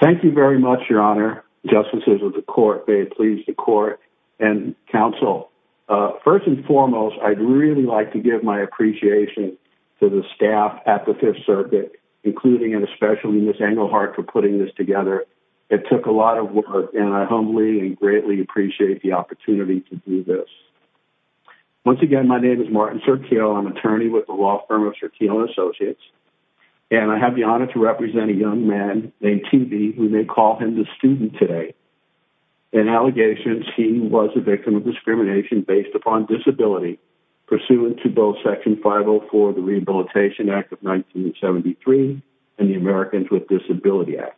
Thank you very much, your honor, justices of the court, may it please the court and counsel. First and foremost, I'd really like to give my appreciation to the staff at the Fifth Circuit, including and especially Ms. Engelhardt for putting this together. It took a lot of work, and I humbly and greatly appreciate the opportunity to do this. Once again, my name is Martin Circhile. I'm attorney with the law firm of Circhile and Associates, and I have the honor to represent a young man named T. B. We may call him the student today. In allegations, he was a victim of discrimination based upon disability, pursuant to both Section 504 of the Rehabilitation Act of 1973 and the Americans with Disability Act.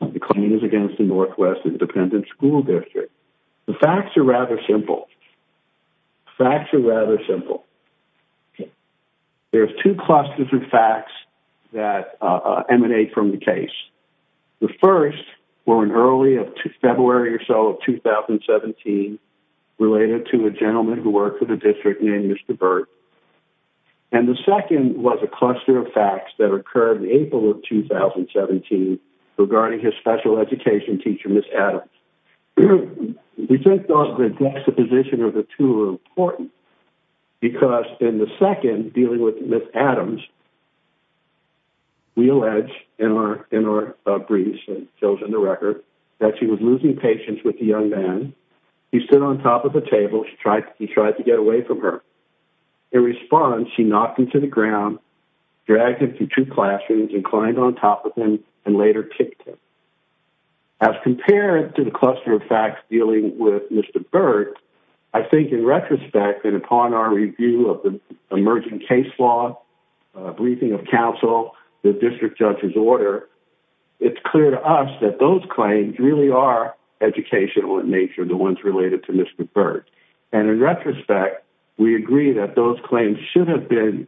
The claim is against the Northwest Independent School District. The facts are rather simple. The facts are rather simple. There's two clusters of facts that emanate from the case. The first were in early February or so of 2017 related to a gentleman who worked for the district named Mr. Burt. And the second was a cluster of facts that occurred in April of 2017 regarding his special education teacher, Ms. Adams. We think the juxtaposition of the two are important because in the second, dealing with Ms. Adams, we allege in our briefs and shows in the record that she was losing patience with the young man. He stood on top of the table. He tried to get away from her. In response, she knocked him to the ground, dragged him through two classrooms, and climbed on top of him and later kicked him. As compared to the cluster of facts dealing with Mr. Burt, I think in retrospect, and upon our review of the emerging case law, briefing of counsel, the district judge's order, it's clear to us that those claims really are educational in nature, the ones related to Mr. Burt. And in retrospect, we agree that those claims should have been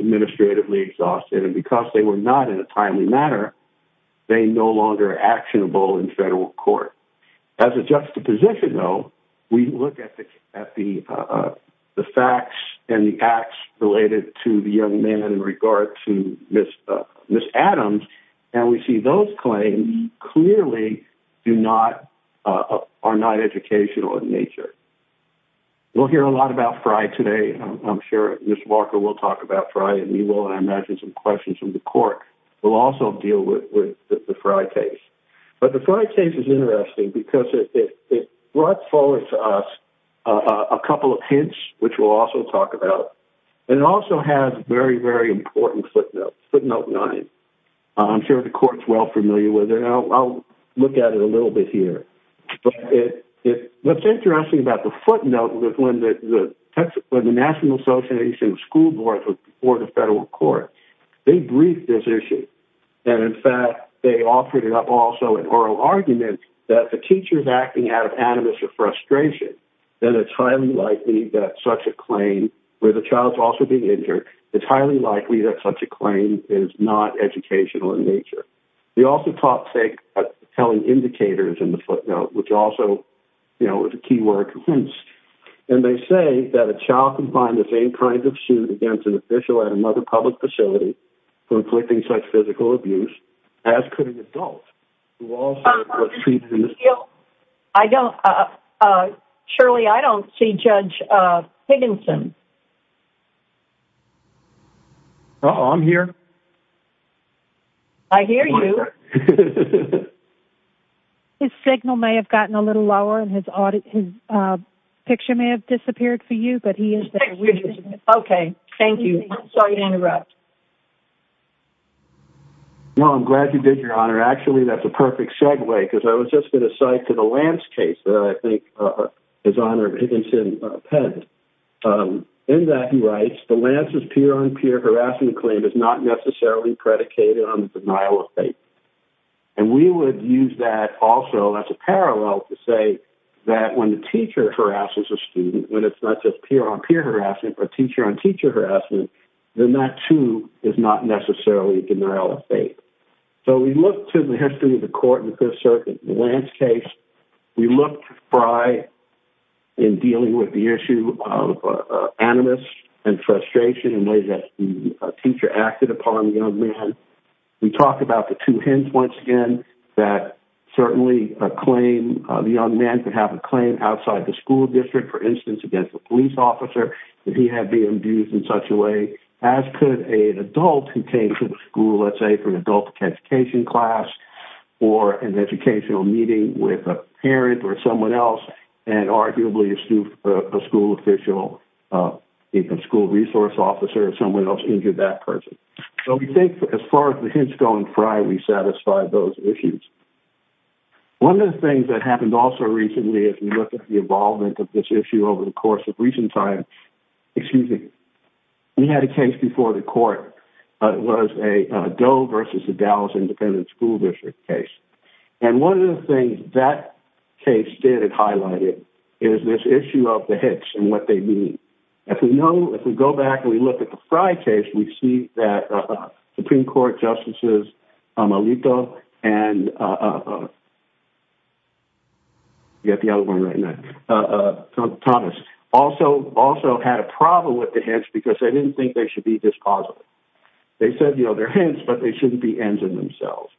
administratively exhausted, and because they were not in a timely manner, they're no longer actionable in federal court. As a juxtaposition, though, we look at the facts and the acts related to the young man in regard to Ms. Adams, and we see those claims clearly are not educational in nature. We'll hear a lot about Frye today. I'm sure Ms. Walker will talk about Frye, and we will, and I imagine some questions from the court will also deal with the Frye case. But the Frye case is interesting because it brought forward to us a couple of hints, which we'll also talk about, and it also has very, very important footnotes, footnote 9. I'm sure the court's well familiar with it. I'll look at it a little bit here. But what's interesting about the footnote was when the National Association of School Boards before the federal court, they briefed this issue, and, in fact, they offered it up also in oral arguments that if a teacher is acting out of animus or frustration, then it's highly likely that such a claim where the child's also being injured, it's highly likely that such a claim is not educational in nature. They also talk, say, about telling indicators in the footnote, which also, you know, is a key word, hence. And they say that a child can find the same kind of suit against an official at another public facility for inflicting such physical abuse as could an adult We'll also see... I don't... Shirley, I don't see Judge Higginson. Uh-oh, I'm here. I hear you. His signal may have gotten a little lower, and his picture may have disappeared for you, but he is there. Okay, thank you. Sorry to interrupt. No, I'm glad you did, Your Honor. Actually, that's a perfect segue, because I was just going to cite to the Lance case that I think is Honor Higginson penned. In that, he writes, the Lance's peer-on-peer harassment claim is not necessarily predicated on the denial of faith. And we would use that also as a parallel to say that when the teacher harasses a student, when it's not just peer-on-peer harassment but teacher-on-teacher harassment, then that, too, is not necessarily denial of faith. So we look to the history of the court and the Fifth Circuit in the Lance case. We look to Frye in dealing with the issue of animus and frustration in ways that the teacher acted upon the young man. We talk about the two hints once again that certainly a claim... The young man could have a claim outside the school district, for instance, against a police officer, that he had been abused in such a way, as could an adult who came to the school, let's say, for an adult education class or an educational meeting with a parent or someone else and arguably a school official, even a school resource officer, if someone else injured that person. So we think, as far as the hints go in Frye, we satisfy those issues. One of the things that happened also recently as we look at the involvement of this issue over the course of recent time... Excuse me. We had a case before the court. It was a Doe versus the Dallas Independent School District case. And one of the things that case did, it highlighted, is this issue of the hints and what they mean. If we go back and we look at the Frye case, we see that Supreme Court Justices Amelito and... also had a problem with the hints because they didn't think they should be dispositive. They said, you know, they're hints, but they shouldn't be ends in themselves.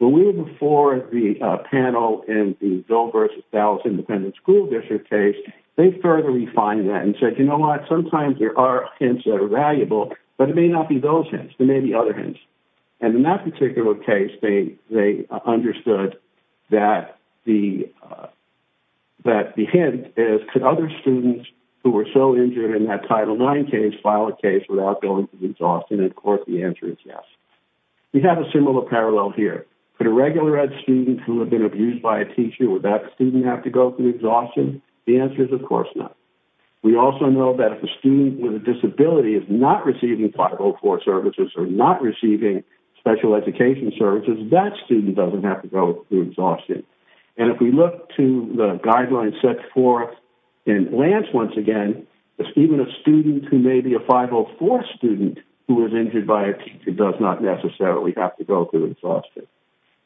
But we were before the panel in the Doe versus Dallas Independent School District case. They further refined that and said, you know what, sometimes there are hints that are valuable, but it may not be those hints. There may be other hints. And in that particular case, they understood that the hint is, could other students who were so injured in that Title IX case file a case without going through exhaustion? And, of course, the answer is yes. We have a similar parallel here. Could a regular ed student who had been abused by a teacher, would that student have to go through exhaustion? The answer is, of course, no. We also know that if a student with a disability is not receiving Title IV services or not receiving special education services, that student doesn't have to go through exhaustion. And if we look to the guidelines set forth in Lance, once again, even a student who may be a 504 student who was injured by a teacher does not necessarily have to go through exhaustion.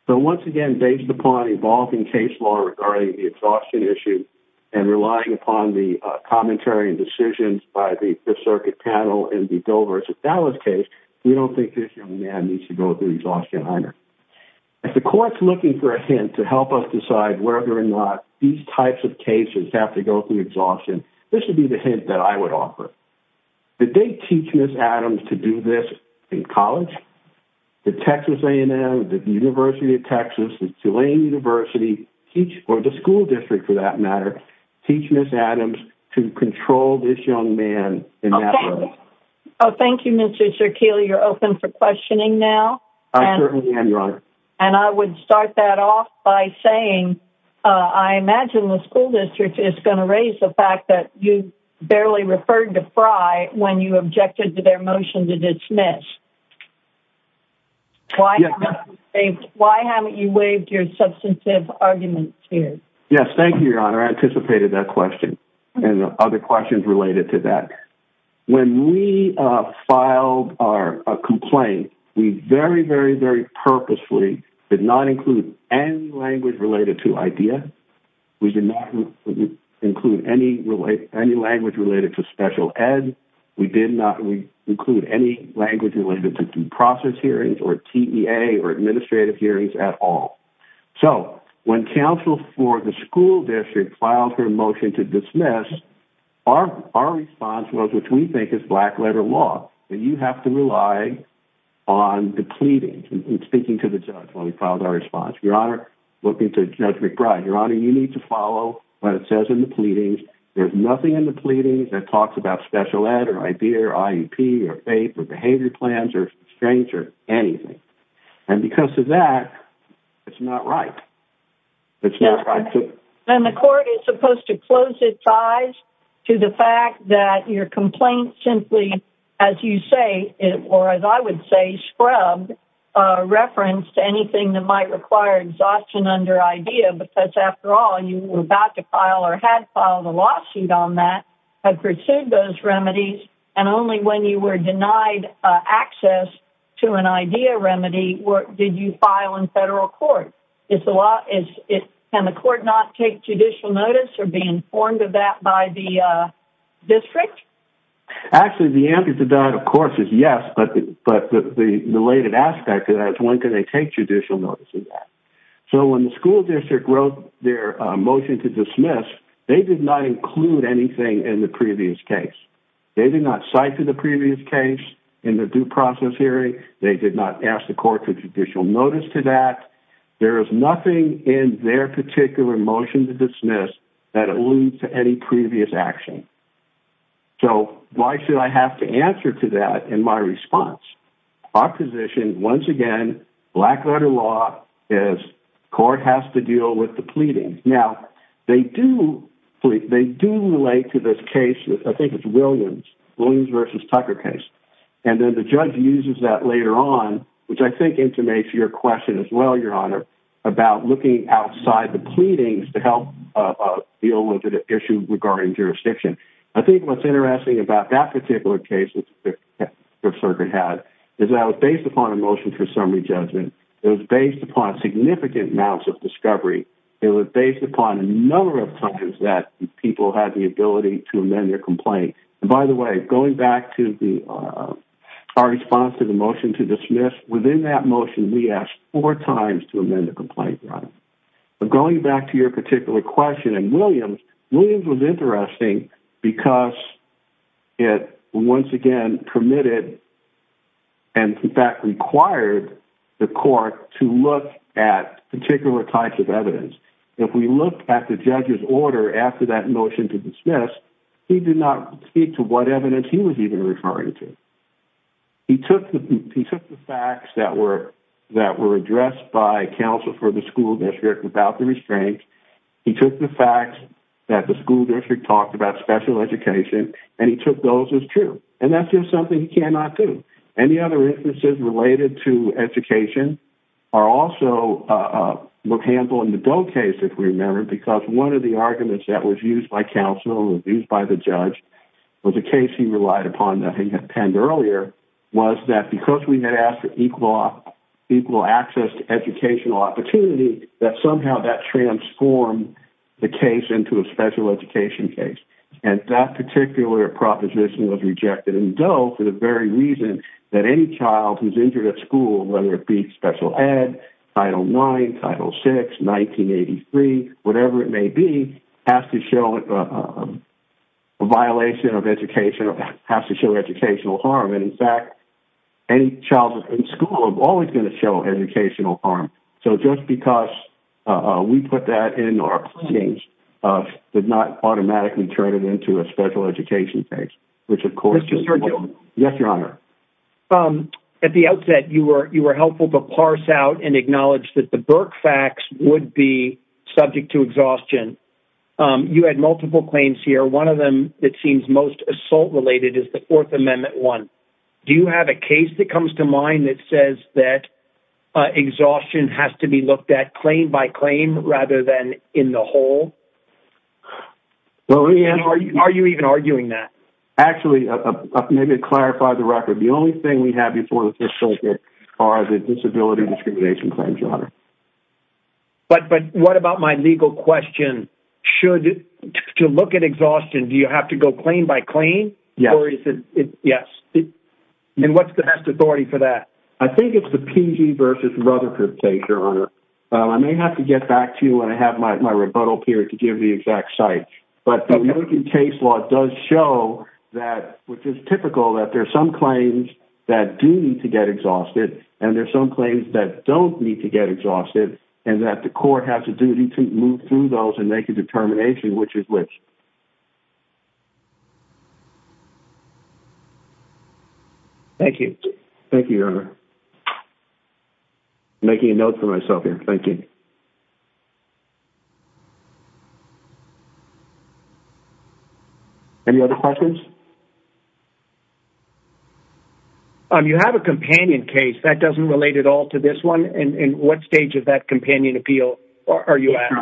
So, once again, based upon evolving case law regarding the exhaustion issue and relying upon the commentary and decisions by the Fifth Circuit panel in the Doe versus Dallas case, we don't think this young man needs to go through exhaustion either. If the court is looking for a hint to help us decide whether or not these types of cases have to go through exhaustion, this would be the hint that I would offer. Did they teach Ms. Adams to do this in college? Did Texas A&M, the University of Texas, Tulane University, or the school district, for that matter, teach Ms. Adams to control this young man in that way? Oh, thank you. Oh, thank you, Mr. Circhile. You're open for questioning now. I certainly am, Your Honor. And I would start that off by saying I imagine the school district is going to raise the fact that you barely referred to Fry when you objected to their motion to dismiss. Why haven't you waived your substantive arguments here? Yes, thank you, Your Honor. I anticipated that question and other questions related to that. When we filed our complaint, we very, very, very purposefully did not include any language related to IDEA. We did not include any language related to special ed. We did not include any language related to due process hearings or TEA or administrative hearings at all. So when counsel for the school district filed her motion to dismiss, our response was, which we think is black-letter law, that you have to rely on the pleadings. I'm speaking to the judge when we filed our response. Your Honor, looking to Judge McBride, Your Honor, you need to follow what it says in the pleadings. There's nothing in the pleadings that talks about special ed or IDEA or IEP or FAPE or behavior plans or restraints or anything. And because of that, it's not right. It's not right. And the court is supposed to close its eyes to the fact that your complaint simply, as you say, or as I would say, scrubbed, referenced anything that might require exhaustion under IDEA because, after all, you were about to file or had filed a lawsuit on that, had pursued those remedies, and only when you were denied access to an IDEA remedy did you file in federal court. Can the court not take judicial notice or be informed of that by the district? Actually, the answer to that, of course, is yes, but the related aspect of that is when can they take judicial notice of that? So when the school district wrote their motion to dismiss, they did not include anything in the previous case. They did not cite to the previous case in the due process hearing. They did not ask the court for judicial notice to that. There is nothing in their particular motion to dismiss that alludes to any previous action. So why should I have to answer to that in my response? Our position, once again, black-letter law, is court has to deal with the pleading. Now, they do relate to this case, I think it's Williams, Williams v. Tucker case, and then the judge uses that later on, which I think intimates your question as well, Your Honor, about looking outside the pleadings to help deal with an issue regarding jurisdiction. I think what's interesting about that particular case that the Fifth Circuit had is that it was based upon a motion for summary judgment. It was based upon significant amounts of discovery. It was based upon a number of times that people had the ability to amend their complaint. And by the way, going back to our response to the motion to dismiss, within that motion, we asked four times to amend the complaint, Your Honor. But going back to your particular question and Williams, Williams was interesting because it, once again, permitted and, in fact, required the court to look at particular types of evidence. If we looked at the judge's order after that motion to dismiss, he did not speak to what evidence he was even referring to. He took the facts that were addressed by counsel for the school district without the restraint. He took the fact that the school district talked about special education, and he took those as true. And that's just something he cannot do. Any other instances related to education are also handled in the Doe case, if we remember, because one of the arguments that was used by counsel, was used by the judge, was a case he relied upon that he had penned earlier, was that because we had asked for equal access to educational opportunity, that somehow that transformed the case into a special education case. And that particular proposition was rejected in Doe for the very reason that any child who's injured at school, whether it be special ed, Title IX, Title VI, 1983, whatever it may be, has to show a violation of education, has to show educational harm. And, in fact, any child in school is always going to show educational harm. So just because we put that in our claims did not automatically turn it into a special education case, which, of course, is wrong. Mr. Sergio? Yes, Your Honor. At the outset, you were helpful to parse out and acknowledge that the Burke facts would be subject to exhaustion. You had multiple claims here. One of them that seems most assault-related is the Fourth Amendment one. Do you have a case that comes to mind that says that exhaustion has to be looked at claim by claim rather than in the whole? Are you even arguing that? Actually, maybe to clarify the record, the only thing we have before the Fifth Circuit are the disability discrimination claims, Your Honor. But what about my legal question? To look at exhaustion, do you have to go claim by claim? Yes. Yes. And what's the best authority for that? I think it's the PG versus Rutherford case, Your Honor. I may have to get back to you when I have my rebuttal period to give the exact site. But the working case law does show, which is typical, that there are some claims that do need to get exhausted and there are some claims that don't need to get exhausted and that the court has a duty to move through those and make a determination which is which. Thank you. Thank you, Your Honor. I'm making a note for myself here. Thank you. Any other questions? You have a companion case. That doesn't relate at all to this one. In what stage of that companion appeal are you at?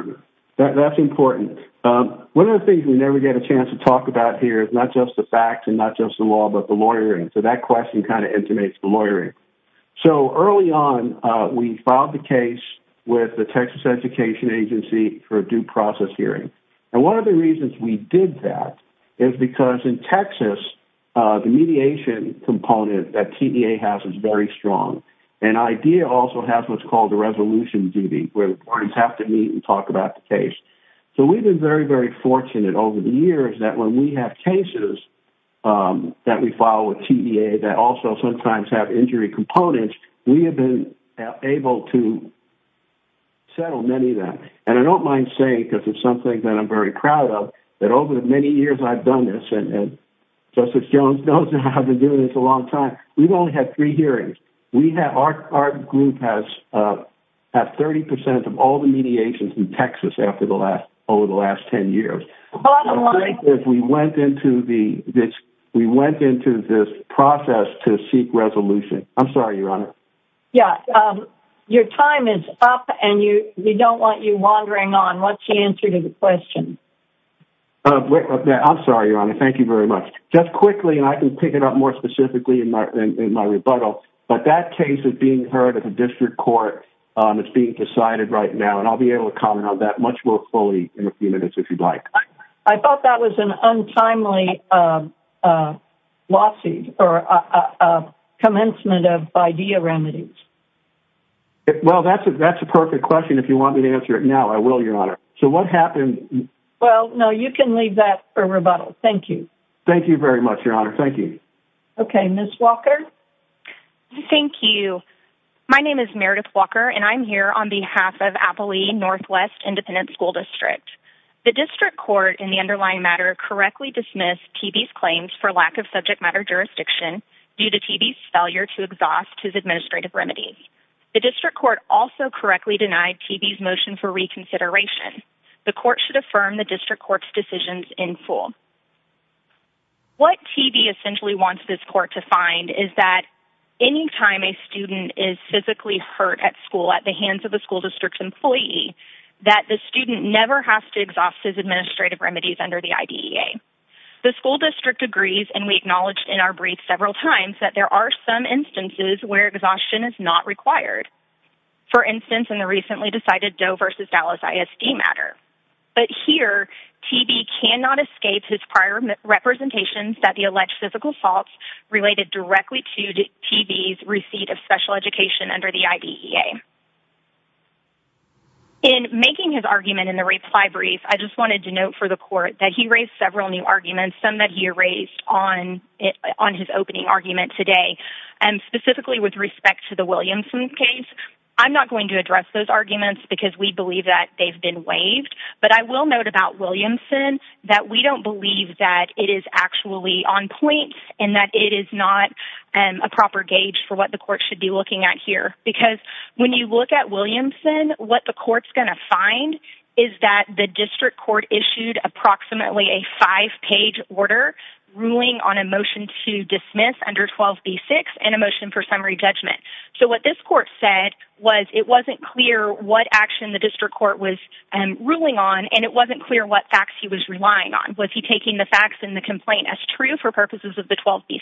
That's important. One of the things we never get a chance to talk about here is not just the facts and not just the law but the lawyering. So that question kind of intimates the lawyering. So early on, we filed the case with the Texas Education Agency for a due process hearing. And one of the reasons we did that is because in Texas, the mediation component that TVA has is very strong. And IDEA also has what's called a resolution duty where the parties have to meet and talk about the case. So we've been very, very fortunate over the years that when we have cases that we file with TVA that also sometimes have injury components, we have been able to settle many of them. And I don't mind saying, because it's something that I'm very proud of, that over the many years I've done this, and Justice Jones knows I've been doing this a long time, we've only had three hearings. Our group has had 30% of all the mediations in Texas over the last 10 years. Bottom line... We went into this process to seek resolution. I'm sorry, Your Honor. Yeah, your time is up, and we don't want you wandering on. What's the answer to the question? I'm sorry, Your Honor. Thank you very much. Just quickly, and I can pick it up more specifically in my rebuttal, but that case is being heard at the district court. It's being decided right now, and I'll be able to comment on that much more fully in a few minutes if you'd like. I thought that was an untimely lawsuit or commencement of idea remedies. Well, that's a perfect question. If you want me to answer it now, I will, Your Honor. So what happened... Well, no, you can leave that for rebuttal. Thank you. Thank you very much, Your Honor. Thank you. Okay, Ms. Walker. Thank you. My name is Meredith Walker, and I'm here on behalf of Appali Northwest Independent School District. The district court in the underlying matter correctly dismissed TB's claims for lack of subject matter jurisdiction due to TB's failure to exhaust his administrative remedies. The district court also correctly denied TB's motion for reconsideration. The court should affirm the district court's decisions in full. What TB essentially wants this court to find is that any time a student is physically hurt at school at the hands of the school district's employee, that the student never has to exhaust his administrative remedies under the IDEA. The school district agrees, and we acknowledged in our brief several times, that there are some instances where exhaustion is not required. For instance, in the recently decided Doe v. Dallas ISD matter. But here, TB cannot escape his prior representations that the alleged physical faults related directly to TB's receipt of special education under the IDEA. In making his argument in the reply brief, I just wanted to note for the court that he raised several new arguments, some that he erased on his opening argument today. And specifically with respect to the Williamson case, I'm not going to address those arguments because we believe that they've been waived. But I will note about Williamson that we don't believe that it is actually on point and that it is not a proper gauge for what the court should be looking at here. Because when you look at Williamson, what the court's going to find is that the district court issued approximately a five-page order ruling on a motion to dismiss under 12b-6 and a motion for summary judgment. So what this court said was that it wasn't clear what action the district court was ruling on and it wasn't clear what facts he was relying on. Was he taking the facts in the complaint as true for purposes of the 12b-6?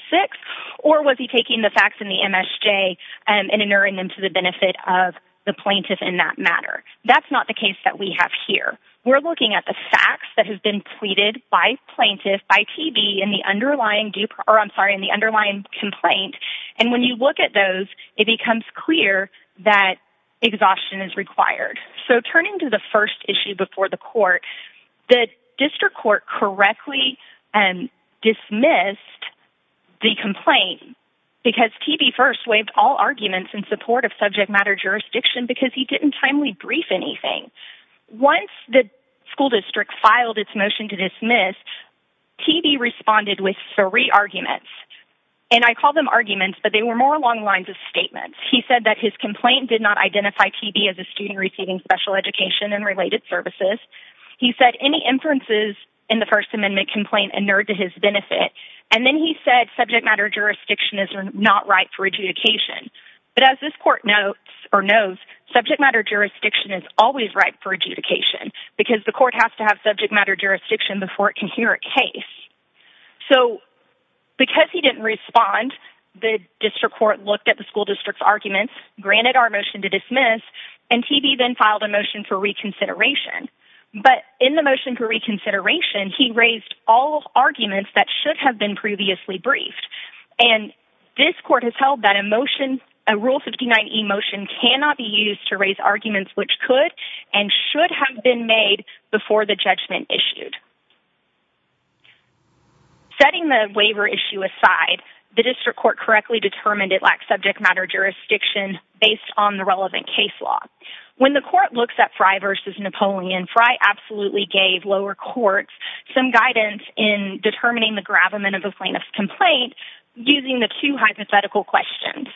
Or was he taking the facts in the MSJ and entering them to the benefit of the plaintiff in that matter? That's not the case that we have here. We're looking at the facts that have been pleaded by plaintiffs, by TB in the underlying complaint. And when you look at those, it becomes clear that exhaustion is required. So turning to the first issue before the court, the district court correctly dismissed the complaint because TB first waived all arguments in support of subject matter jurisdiction because he didn't timely brief anything. Once the school district filed its motion to dismiss, TB responded with three arguments. And I call them arguments, but they were more along the lines of statements. He said that his complaint did not identify TB as a student receiving special education and related services. He said any inferences in the First Amendment complaint inured to his benefit. And then he said subject matter jurisdiction is not right for adjudication. But as this court knows, subject matter jurisdiction is always right for adjudication because the court has to have subject matter jurisdiction before it can hear a case. So because he didn't respond, the district court looked at the school district's arguments, granted our motion to dismiss, and TB then filed a motion for reconsideration. But in the motion for reconsideration, he raised all arguments that should have been previously briefed. And this court has held that a motion, a Rule 59e motion, cannot be used to raise arguments which could and should have been made before the judgment issued. Setting the waiver issue aside, the district court correctly determined it lacked subject matter jurisdiction based on the relevant case law. When the court looks at Frye v. Napoleon, Frye absolutely gave lower courts some guidance in determining the gravamen of a plaintiff's complaint using the two hypothetical questions.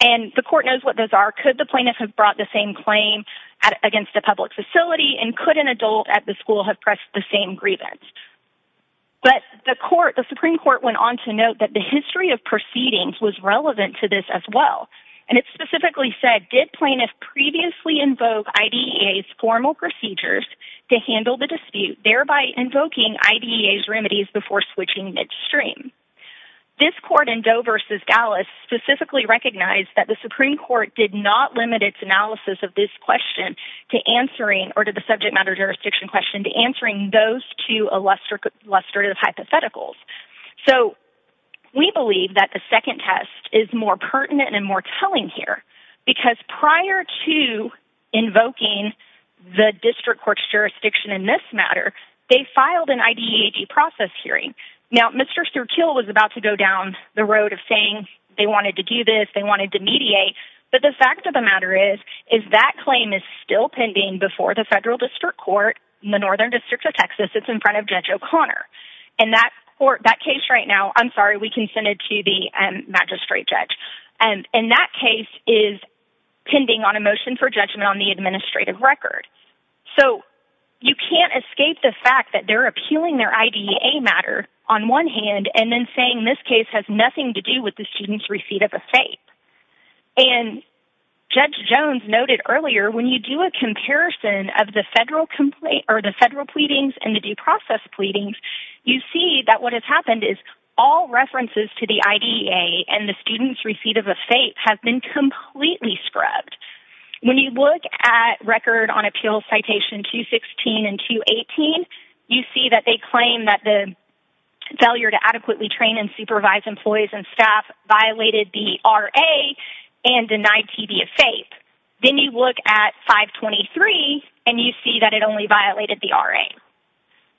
And the court knows what those are. Could the plaintiff have brought the same claim against a public facility, and could an adult at the school have pressed the same grievance? But the court, the Supreme Court, went on to note that the history of proceedings was relevant to this as well. And it specifically said, did plaintiff previously invoke IDEA's formal procedures to handle the dispute, thereby invoking IDEA's remedies before switching midstream? This court in Doe v. Gallas specifically recognized that the Supreme Court did not limit its analysis of this question to answering or to the subject matter jurisdiction question and answering those two illustrative hypotheticals. So we believe that the second test is more pertinent and more telling here because prior to invoking the district court's jurisdiction in this matter, they filed an IDEA process hearing. Now, Mr. Sterkiel was about to go down the road of saying they wanted to do this, they wanted to mediate, but the fact of the matter is that claim is still pending before the federal district court in the northern district of Texas. It's in front of Judge O'Connor. And that court, that case right now, I'm sorry, we can send it to the magistrate judge. And that case is pending on a motion for judgment on the administrative record. So you can't escape the fact that they're appealing their IDEA matter on one hand and then saying this case has nothing to do with the student's receipt of a fape. And Judge Jones noted earlier, when you do a comparison of the federal complaint or the federal pleadings and the due process pleadings, you see that what has happened is all references to the IDEA and the student's receipt of a fape have been completely scrubbed. When you look at Record on Appeals Citation 216 and 218, you see that they claim that the failure violated the RA and denied TB a fape. Then you look at 523, and you see that it only violated the RA.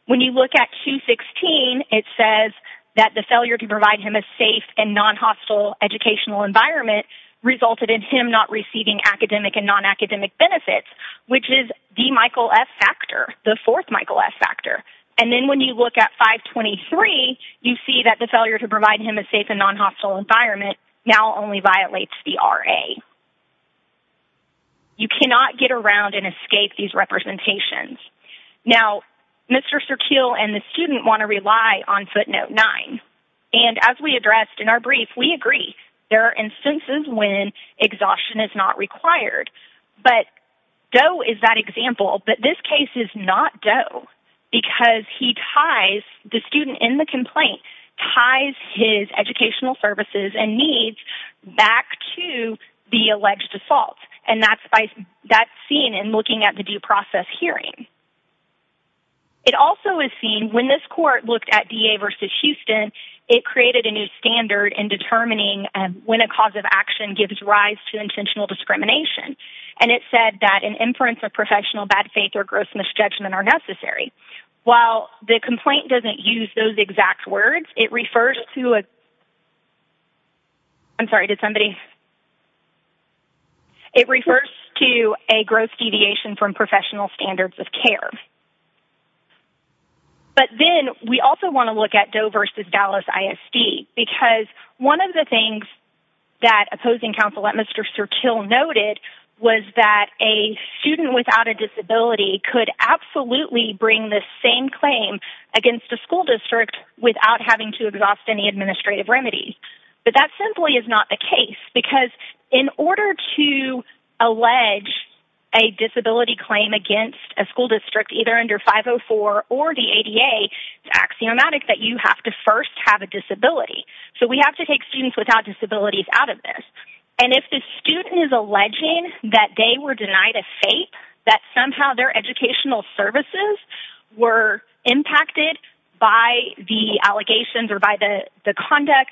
When you look at 216, it says that the failure to provide him a safe and non-hostile educational environment resulted in him not receiving academic and non-academic benefits, which is the Michael F. factor, the fourth Michael F. factor. And then when you look at 523, you see that the failure to provide him a safe and non-hostile environment now only violates the RA. You cannot get around and escape these representations. Now, Mr. Surkeel and the student want to rely on footnote 9, and as we addressed in our brief, we agree. There are instances when exhaustion is not required, but Doe is that example, but this case is not Doe because he ties... The student in the complaint ties his educational services and needs back to the alleged assault, and that's seen in looking at the due process hearing. It also is seen... When this court looked at DA v. Houston, it created a new standard in determining when a cause of action gives rise to intentional discrimination, and it said that an inference of professional bad faith or gross misjudgment are necessary. While the complaint doesn't use those exact words, it refers to a... I'm sorry. Did somebody...? It refers to a gross deviation from professional standards of care. But then we also want to look at Doe v. Dallas ISD because one of the things that opposing counsel at Mr. Surkeel noted was that a student without a disability could absolutely bring the same claim against a school district without having to exhaust any administrative remedies. But that simply is not the case because in order to allege a disability claim against a school district either under 504 or the ADA, it's axiomatic that you have to first have a disability. So we have to take students without disabilities out of this. And if the student is alleging that they were denied a fate, that somehow their educational services were impacted by the allegations or by the conduct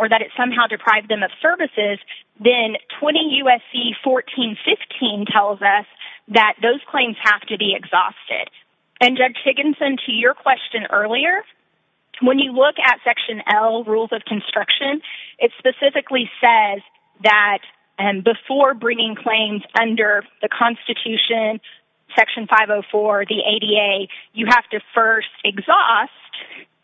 or that it somehow deprived them of services, then 20 U.S.C. 1415 tells us that those claims have to be exhausted. And, Judge Higginson, to your question earlier, when you look at Section L, Rules of Construction, it specifically says that before bringing claims under the Constitution, Section 504, the ADA, you have to first exhaust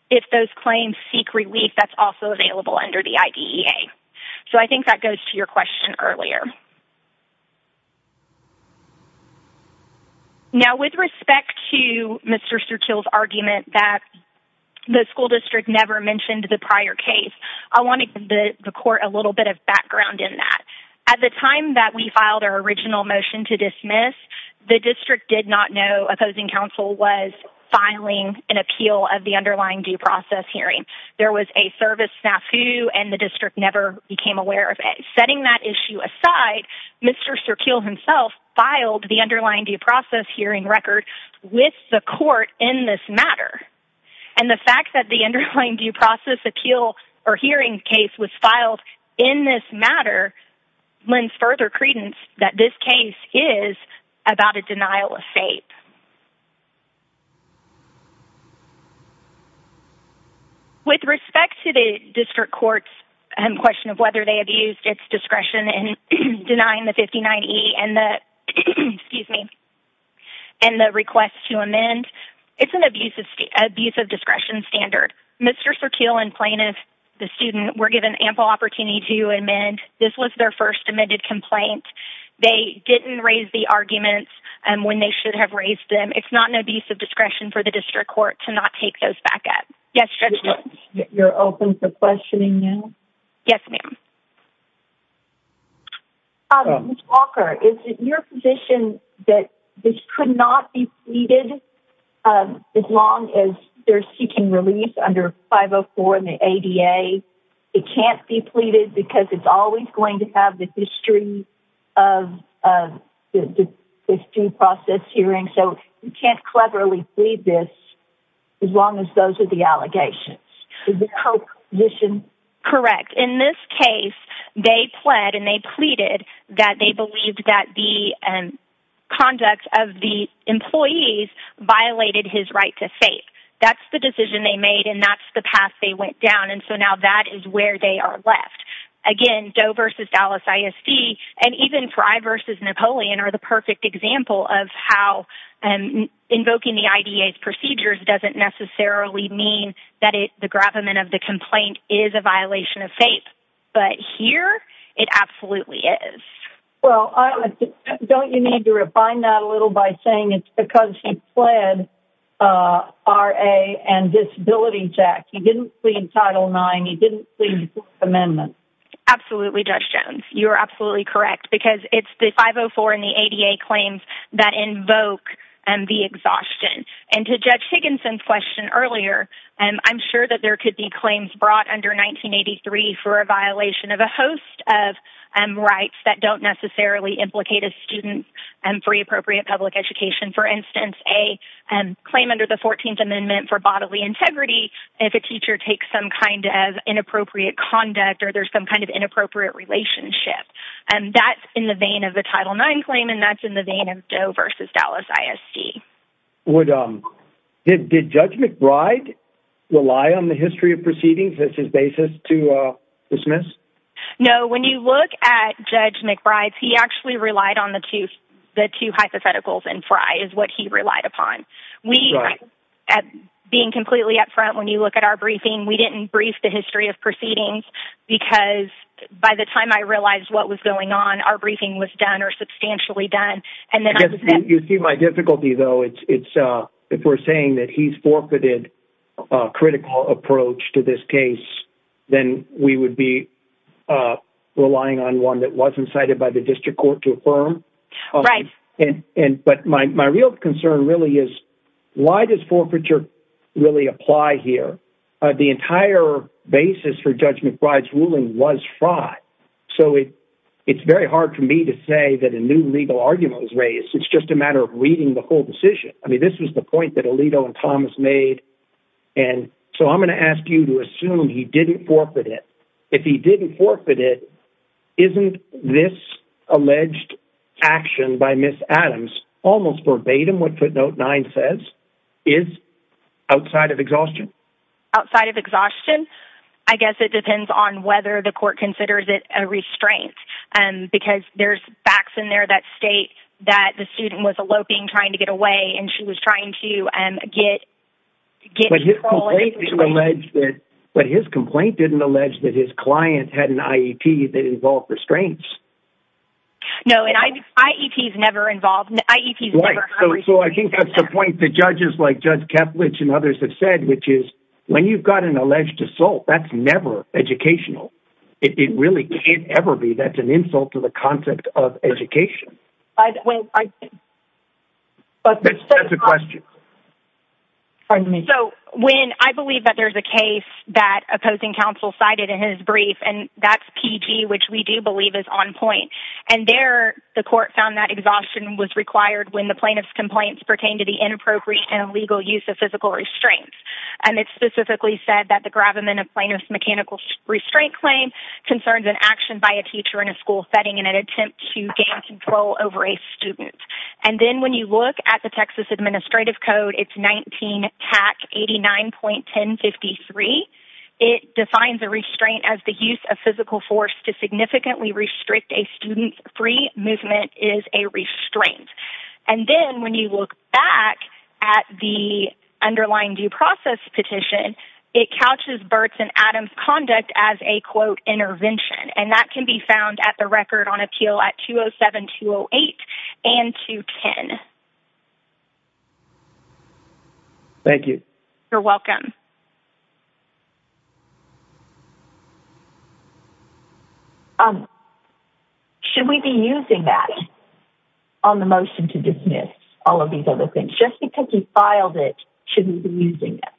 if those claims seek relief that's also available under the IDEA. So I think that goes to your question earlier. Now, with respect to Mr. Surkeel's argument that the school district never mentioned the prior case, I wanted the court a little bit of background in that. At the time that we filed our original motion to dismiss, the district did not know opposing counsel was filing an appeal of the underlying due process hearing. There was a service snafu, and the district never became aware of it. Setting that issue aside, Mr. Surkeel himself filed the underlying due process hearing record with the court in this matter. And the fact that the underlying due process appeal or hearing case was filed in this matter lends further credence that this case is about a denial of state. With respect to the district court's question of whether they abused its discretion in denying the 59E and the... excuse me... and the request to amend, it's an abuse of discretion standard. Mr. Surkeel and plaintiff, the student, were given ample opportunity to amend. This was their first amended complaint. They didn't raise the arguments when they should have raised them. It's not an abuse of discretion for the district court to not take those back up. Yes, Judge Jones. You're open for questioning now? Yes, ma'am. Ms. Walker, is it your position that this could not be pleaded as long as they're seeking release under 504 and the ADA? It can't be pleaded because it's always going to have the history of the due process hearing, so you can't cleverly plead this as long as those are the allegations. Is this your position? Correct. In this case, they pled and they pleaded that they believed that the conduct of the employees violated his right to say it. That's the decision they made and that's the path they went down, and so now that is where they are left. Again, Doe v. Dallas ISD and even Frey v. Napoleon are the perfect example of how invoking the IDA's procedures doesn't necessarily mean that the gravamen of the complaint is a violation of faith. But here, it absolutely is. Well, don't you need to refine that a little by saying it's because he pled R.A. and disability check? He didn't plead Title IX. He didn't plead the Fourth Amendment. Absolutely, Judge Jones. You are absolutely correct because it's the 504 and the ADA claims that invoke the exhaustion. And to Judge Higginson's question earlier, I'm sure that there could be claims brought under 1983 for a violation of a host of rights that don't necessarily implicate a student for the appropriate public education. For instance, a claim under the 14th Amendment for bodily integrity, if a teacher takes some kind of inappropriate conduct or there's some kind of inappropriate relationship. And that's in the vein of the Title IX claim and that's in the vein of Doe v. Dallas ISD. Did Judge McBride rely on the history of proceedings as his basis to dismiss? No, when you look at Judge McBride's, he actually relied on the two hypotheticals and Frey is what he relied upon. Being completely up front, when you look at our briefing, we didn't brief the history of proceedings because by the time I realized what was going on, our briefing was done or substantially done. You see my difficulty, though. If we're saying that he's forfeited a critical approach to this case, then we would be relying on one that wasn't cited by the district court to affirm. Right. But my real concern really is, why does forfeiture really apply here? The entire basis for Judge McBride's ruling was fraud. So it's very hard for me to say that a new legal argument was raised. It's just a matter of reading the whole decision. I mean, this was the point that Alito and Thomas made. And so I'm going to ask you to assume he didn't forfeit it. If he didn't forfeit it, isn't this alleged action by Ms. Adams almost verbatim what footnote 9 says is outside of exhaustion? Outside of exhaustion? I guess it depends on whether the court considers it a restraint because there's facts in there that state that the student was eloping, trying to get away, and she was trying to get... But his complaint didn't allege that his client had an IEP. It involved restraints. No, and IEP's never involved. Right, so I think that's the point that judges like Judge Keplech and others have said, which is when you've got an alleged assault, that's never educational. It really can't ever be. That's an insult to the concept of education. Well, I... That's a question. Pardon me. So when... I believe that there's a case that opposing counsel cited in his brief, and that's PG, which we do believe is on point. And there, the court found that exhaustion was required when the plaintiff's complaints pertain to the inappropriate and illegal use of physical restraints. And it specifically said that the gravamen of plaintiff's mechanical restraint claim concerns an action by a teacher in a school setting in an attempt to gain control over a student. And then when you look at the Texas Administrative Code, it's 19 PAC 89.1053. It defines a restraint as the use of physical force to significantly restrict a student's free movement is a restraint. And then when you look back at the underlying due process petition, it couches Burt's and Adam's conduct as a, quote, intervention. And that can be found at the record on appeal at 207-208 and 210. Thank you. You're welcome. Um, should we be using that on the motion to dismiss all of these other things? Just because you filed it, should we be using that?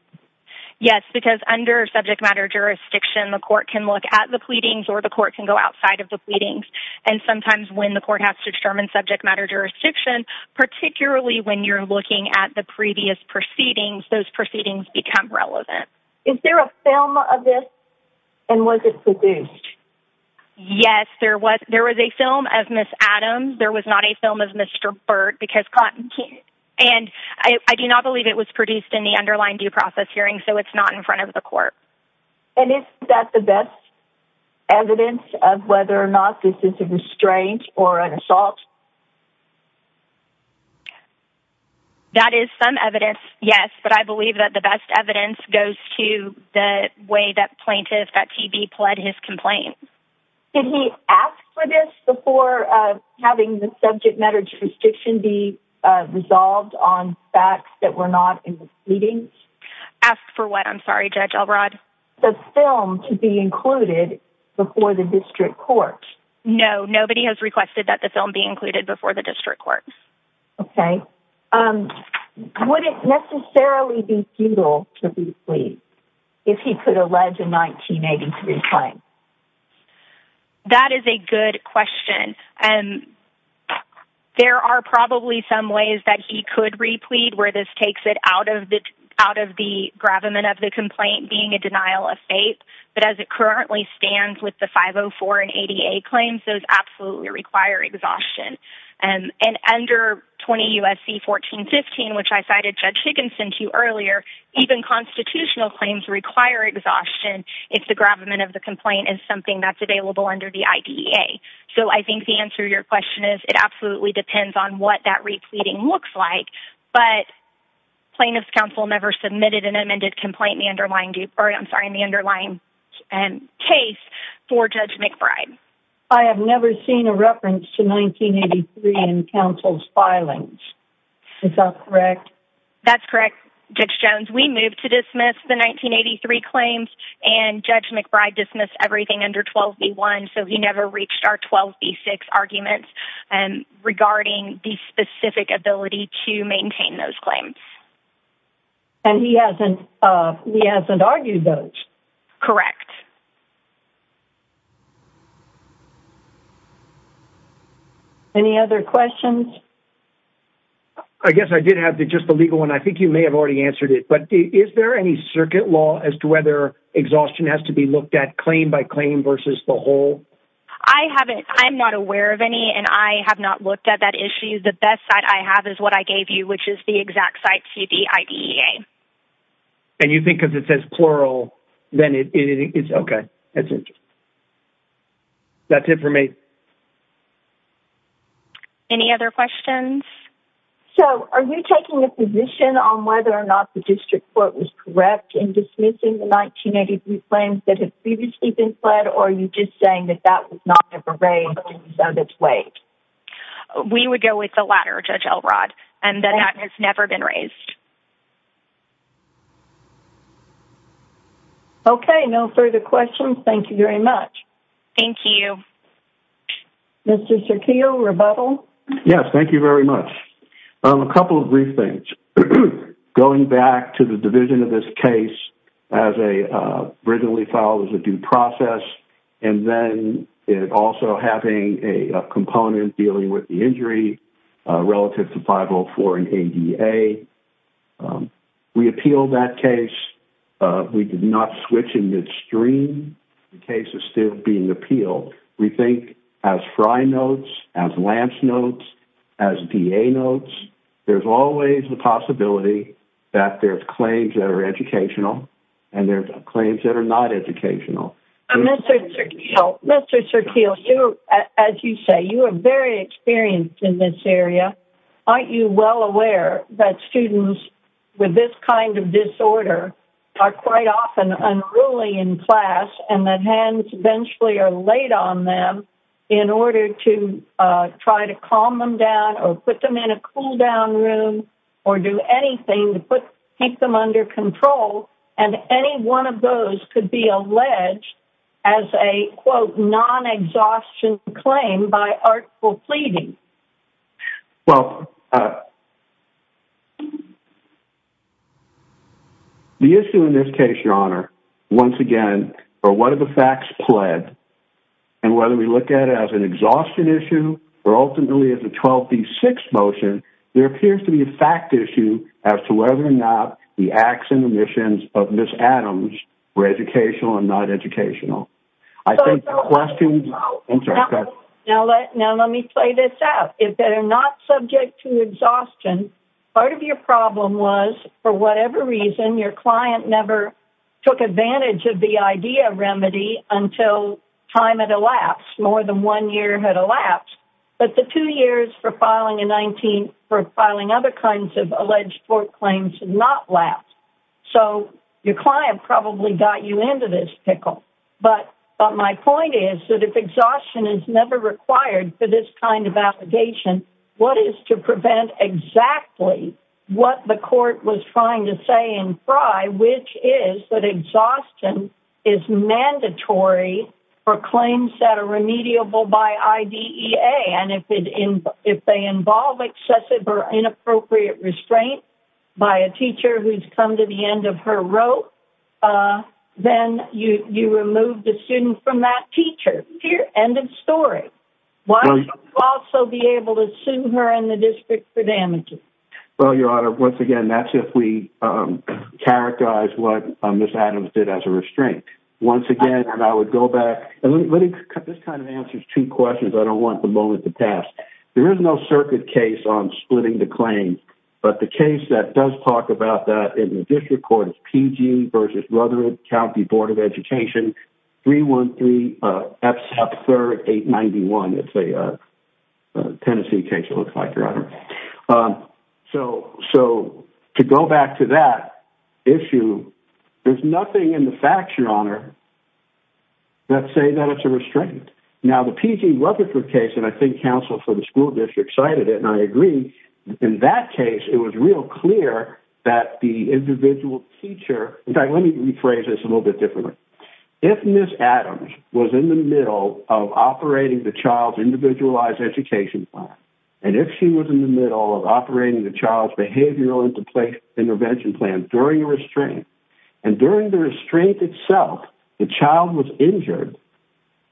Yes, because under subject matter jurisdiction, the court can look at the pleadings or the court can go outside of the pleadings. And sometimes when the court has to determine subject matter jurisdiction, particularly when you're looking at the previous proceedings, those proceedings become relevant. Is there a film of this? And was it produced? Yes, there was. There was a film of Ms. Adams. There was not a film of Mr. Burt. And I do not believe it was produced in the underlying due process hearing, so it's not in front of the court. And is that the best evidence of whether or not this is a restraint or an assault? That is some evidence, yes. But I believe that the best evidence goes to the way that plaintiff, that TB, pled his complaint. Did he ask for this before having the subject matter jurisdiction be resolved on facts that were not in the pleadings? Ask for what? I'm sorry, Judge Elrod. The film to be included before the district court. No, nobody has requested that the film be included before the district court. Okay. Would it necessarily be futile to replead if he could allege a 1983 claim? That is a good question. There are probably some ways that he could replead where this takes it out of the gravamen of the complaint being a denial of fate. But as it currently stands with the 504 and ADA claims, those absolutely require exhaustion. And under 20 U.S.C. 1415, which I cited Judge Higginson to earlier, even constitutional claims require exhaustion if the gravamen of the complaint is something that's available under the IDEA. So I think the answer to your question is it absolutely depends on what that repleading looks like. But plaintiff's counsel never submitted an amended complaint in the underlying case for Judge McBride. I have never seen a reference to 1983 in counsel's filings. Is that correct? That's correct, Judge Jones. We moved to dismiss the 1983 claims, and Judge McBride dismissed everything under 12b-1, so he never reached our 12b-6 arguments regarding the specific ability to maintain those claims. And he hasn't argued those? Correct. Any other questions? I guess I did have just the legal one. I think you may have already answered it. But is there any circuit law as to whether exhaustion has to be looked at claim by claim versus the whole? I haven't. I'm not aware of any, and I have not looked at that issue. The best side I have is what I gave you, which is the exact site, CDIDEA. And you think if it says plural, then it's okay. That's it for me. Any other questions? So are you taking a position on whether or not the district court was correct in dismissing the 1983 claims that had previously been fled, or are you just saying that that was not ever raised and was on its way? We would go with the latter, Judge Elrod, and that that has never been raised. Okay, no further questions. Thank you very much. Thank you. Mr. Cerquillo, rebuttal? Yes, thank you very much. A couple of brief things. Going back to the division of this case, as originally filed as a due process, and then it also having a component in dealing with the injury relative to 504 and ADA, we appealed that case. We did not switch in midstream. The case is still being appealed. We think as Fry notes, as Lance notes, as DA notes, there's always the possibility that there are claims that are educational, and there are claims that are not educational. Mr. Cerquillo, as you say, you are very experienced in this area. Aren't you well aware that students with this kind of disorder are quite often unruly in class and that hands eventually are laid on them in order to try to calm them down or put them in a cool-down room or do anything to keep them under control, and any one of those could be alleged as a, quote, non-exhaustion claim by article pleading? Well, the issue in this case, Your Honor, once again, are what are the facts pled, and whether we look at it as an exhaustion issue or ultimately as a 12B6 motion, there appears to be a fact issue as to whether or not the acts and omissions of Ms. Adams were educational and not educational. I think the questions... Now let me play this out. If they're not subject to exhaustion, part of your problem was, for whatever reason, your client never took advantage of the idea of remedy until time had elapsed, more than one year had elapsed, but the two years for filing a 19, for filing other kinds of alleged court claims did not last. So your client probably got you into this pickle. But my point is that if exhaustion is never required for this kind of application, what is to prevent exactly what the court was trying to say in Frye, which is that exhaustion is mandatory for claims that are remediable by IDEA, and if they involve excessive or inappropriate restraint by a teacher who's come to the end of her rope, then you remove the student from that teacher. End of story. Why can't you also be able to sue her and the district for damages? Well, Your Honor, once again, that's if we characterize what Ms. Adams did as a restraint. Once again, and I would go back... This kind of answers two questions I don't want the moment to pass. There is no circuit case on splitting the claim, but the case that does talk about that in the district court is P.G. v. Rutherford County Board of Education, 313 F. South Third 891. It's a Tennessee case, it looks like, Your Honor. So to go back to that issue, there's nothing in the facts, Your Honor, that say that it's a restraint. Now, the P.G. Rutherford case, and I think counsel for the school district cited it, and I agree, in that case it was real clear that the individual teacher... In fact, let me rephrase this a little bit differently. If Ms. Adams was in the middle of operating the child's individualized education plan, and if she was in the middle of operating the child's behavioral intervention plan during a restraint, and during the restraint itself the child was injured,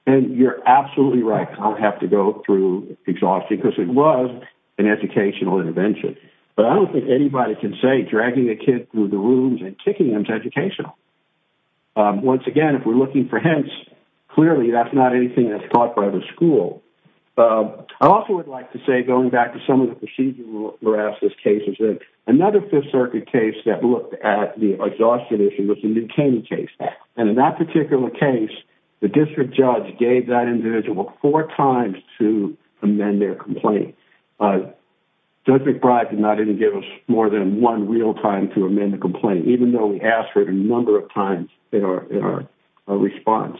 then you're absolutely right. I don't have to go through exhaustion because it was an educational intervention, but I don't think anybody can say dragging a kid through the rooms and kicking them is educational. Once again, if we're looking for hints, clearly that's not anything that's taught by the school. I also would like to say, going back to some of the procedural harasses cases, that another Fifth Circuit case that looked at the exhaustion issue was the New Caney case, and in that particular case, the district judge gave that individual four times to amend their complaint. Judge McBride did not even give us more than one real time to amend the complaint, even though we asked for it a number of times in our response.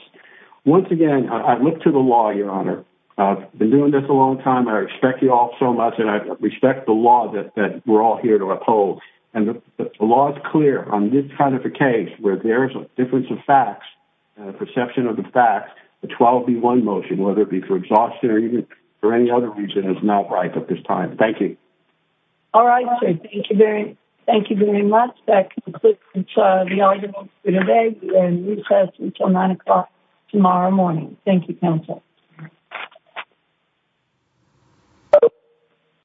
Once again, I look to the law, Your Honor. I've been doing this a long time. I respect you all so much, and I respect the law that we're all here to uphold, and the law is clear on this kind of a case where there is a difference of facts, a perception of the facts. The 12-1 motion, whether it be for exhaustion or any other reason, is not right at this time. Thank you. All right, sir. Thank you very much. That concludes the audience for today. We are in recess until 9 o'clock tomorrow morning. Thank you, counsel.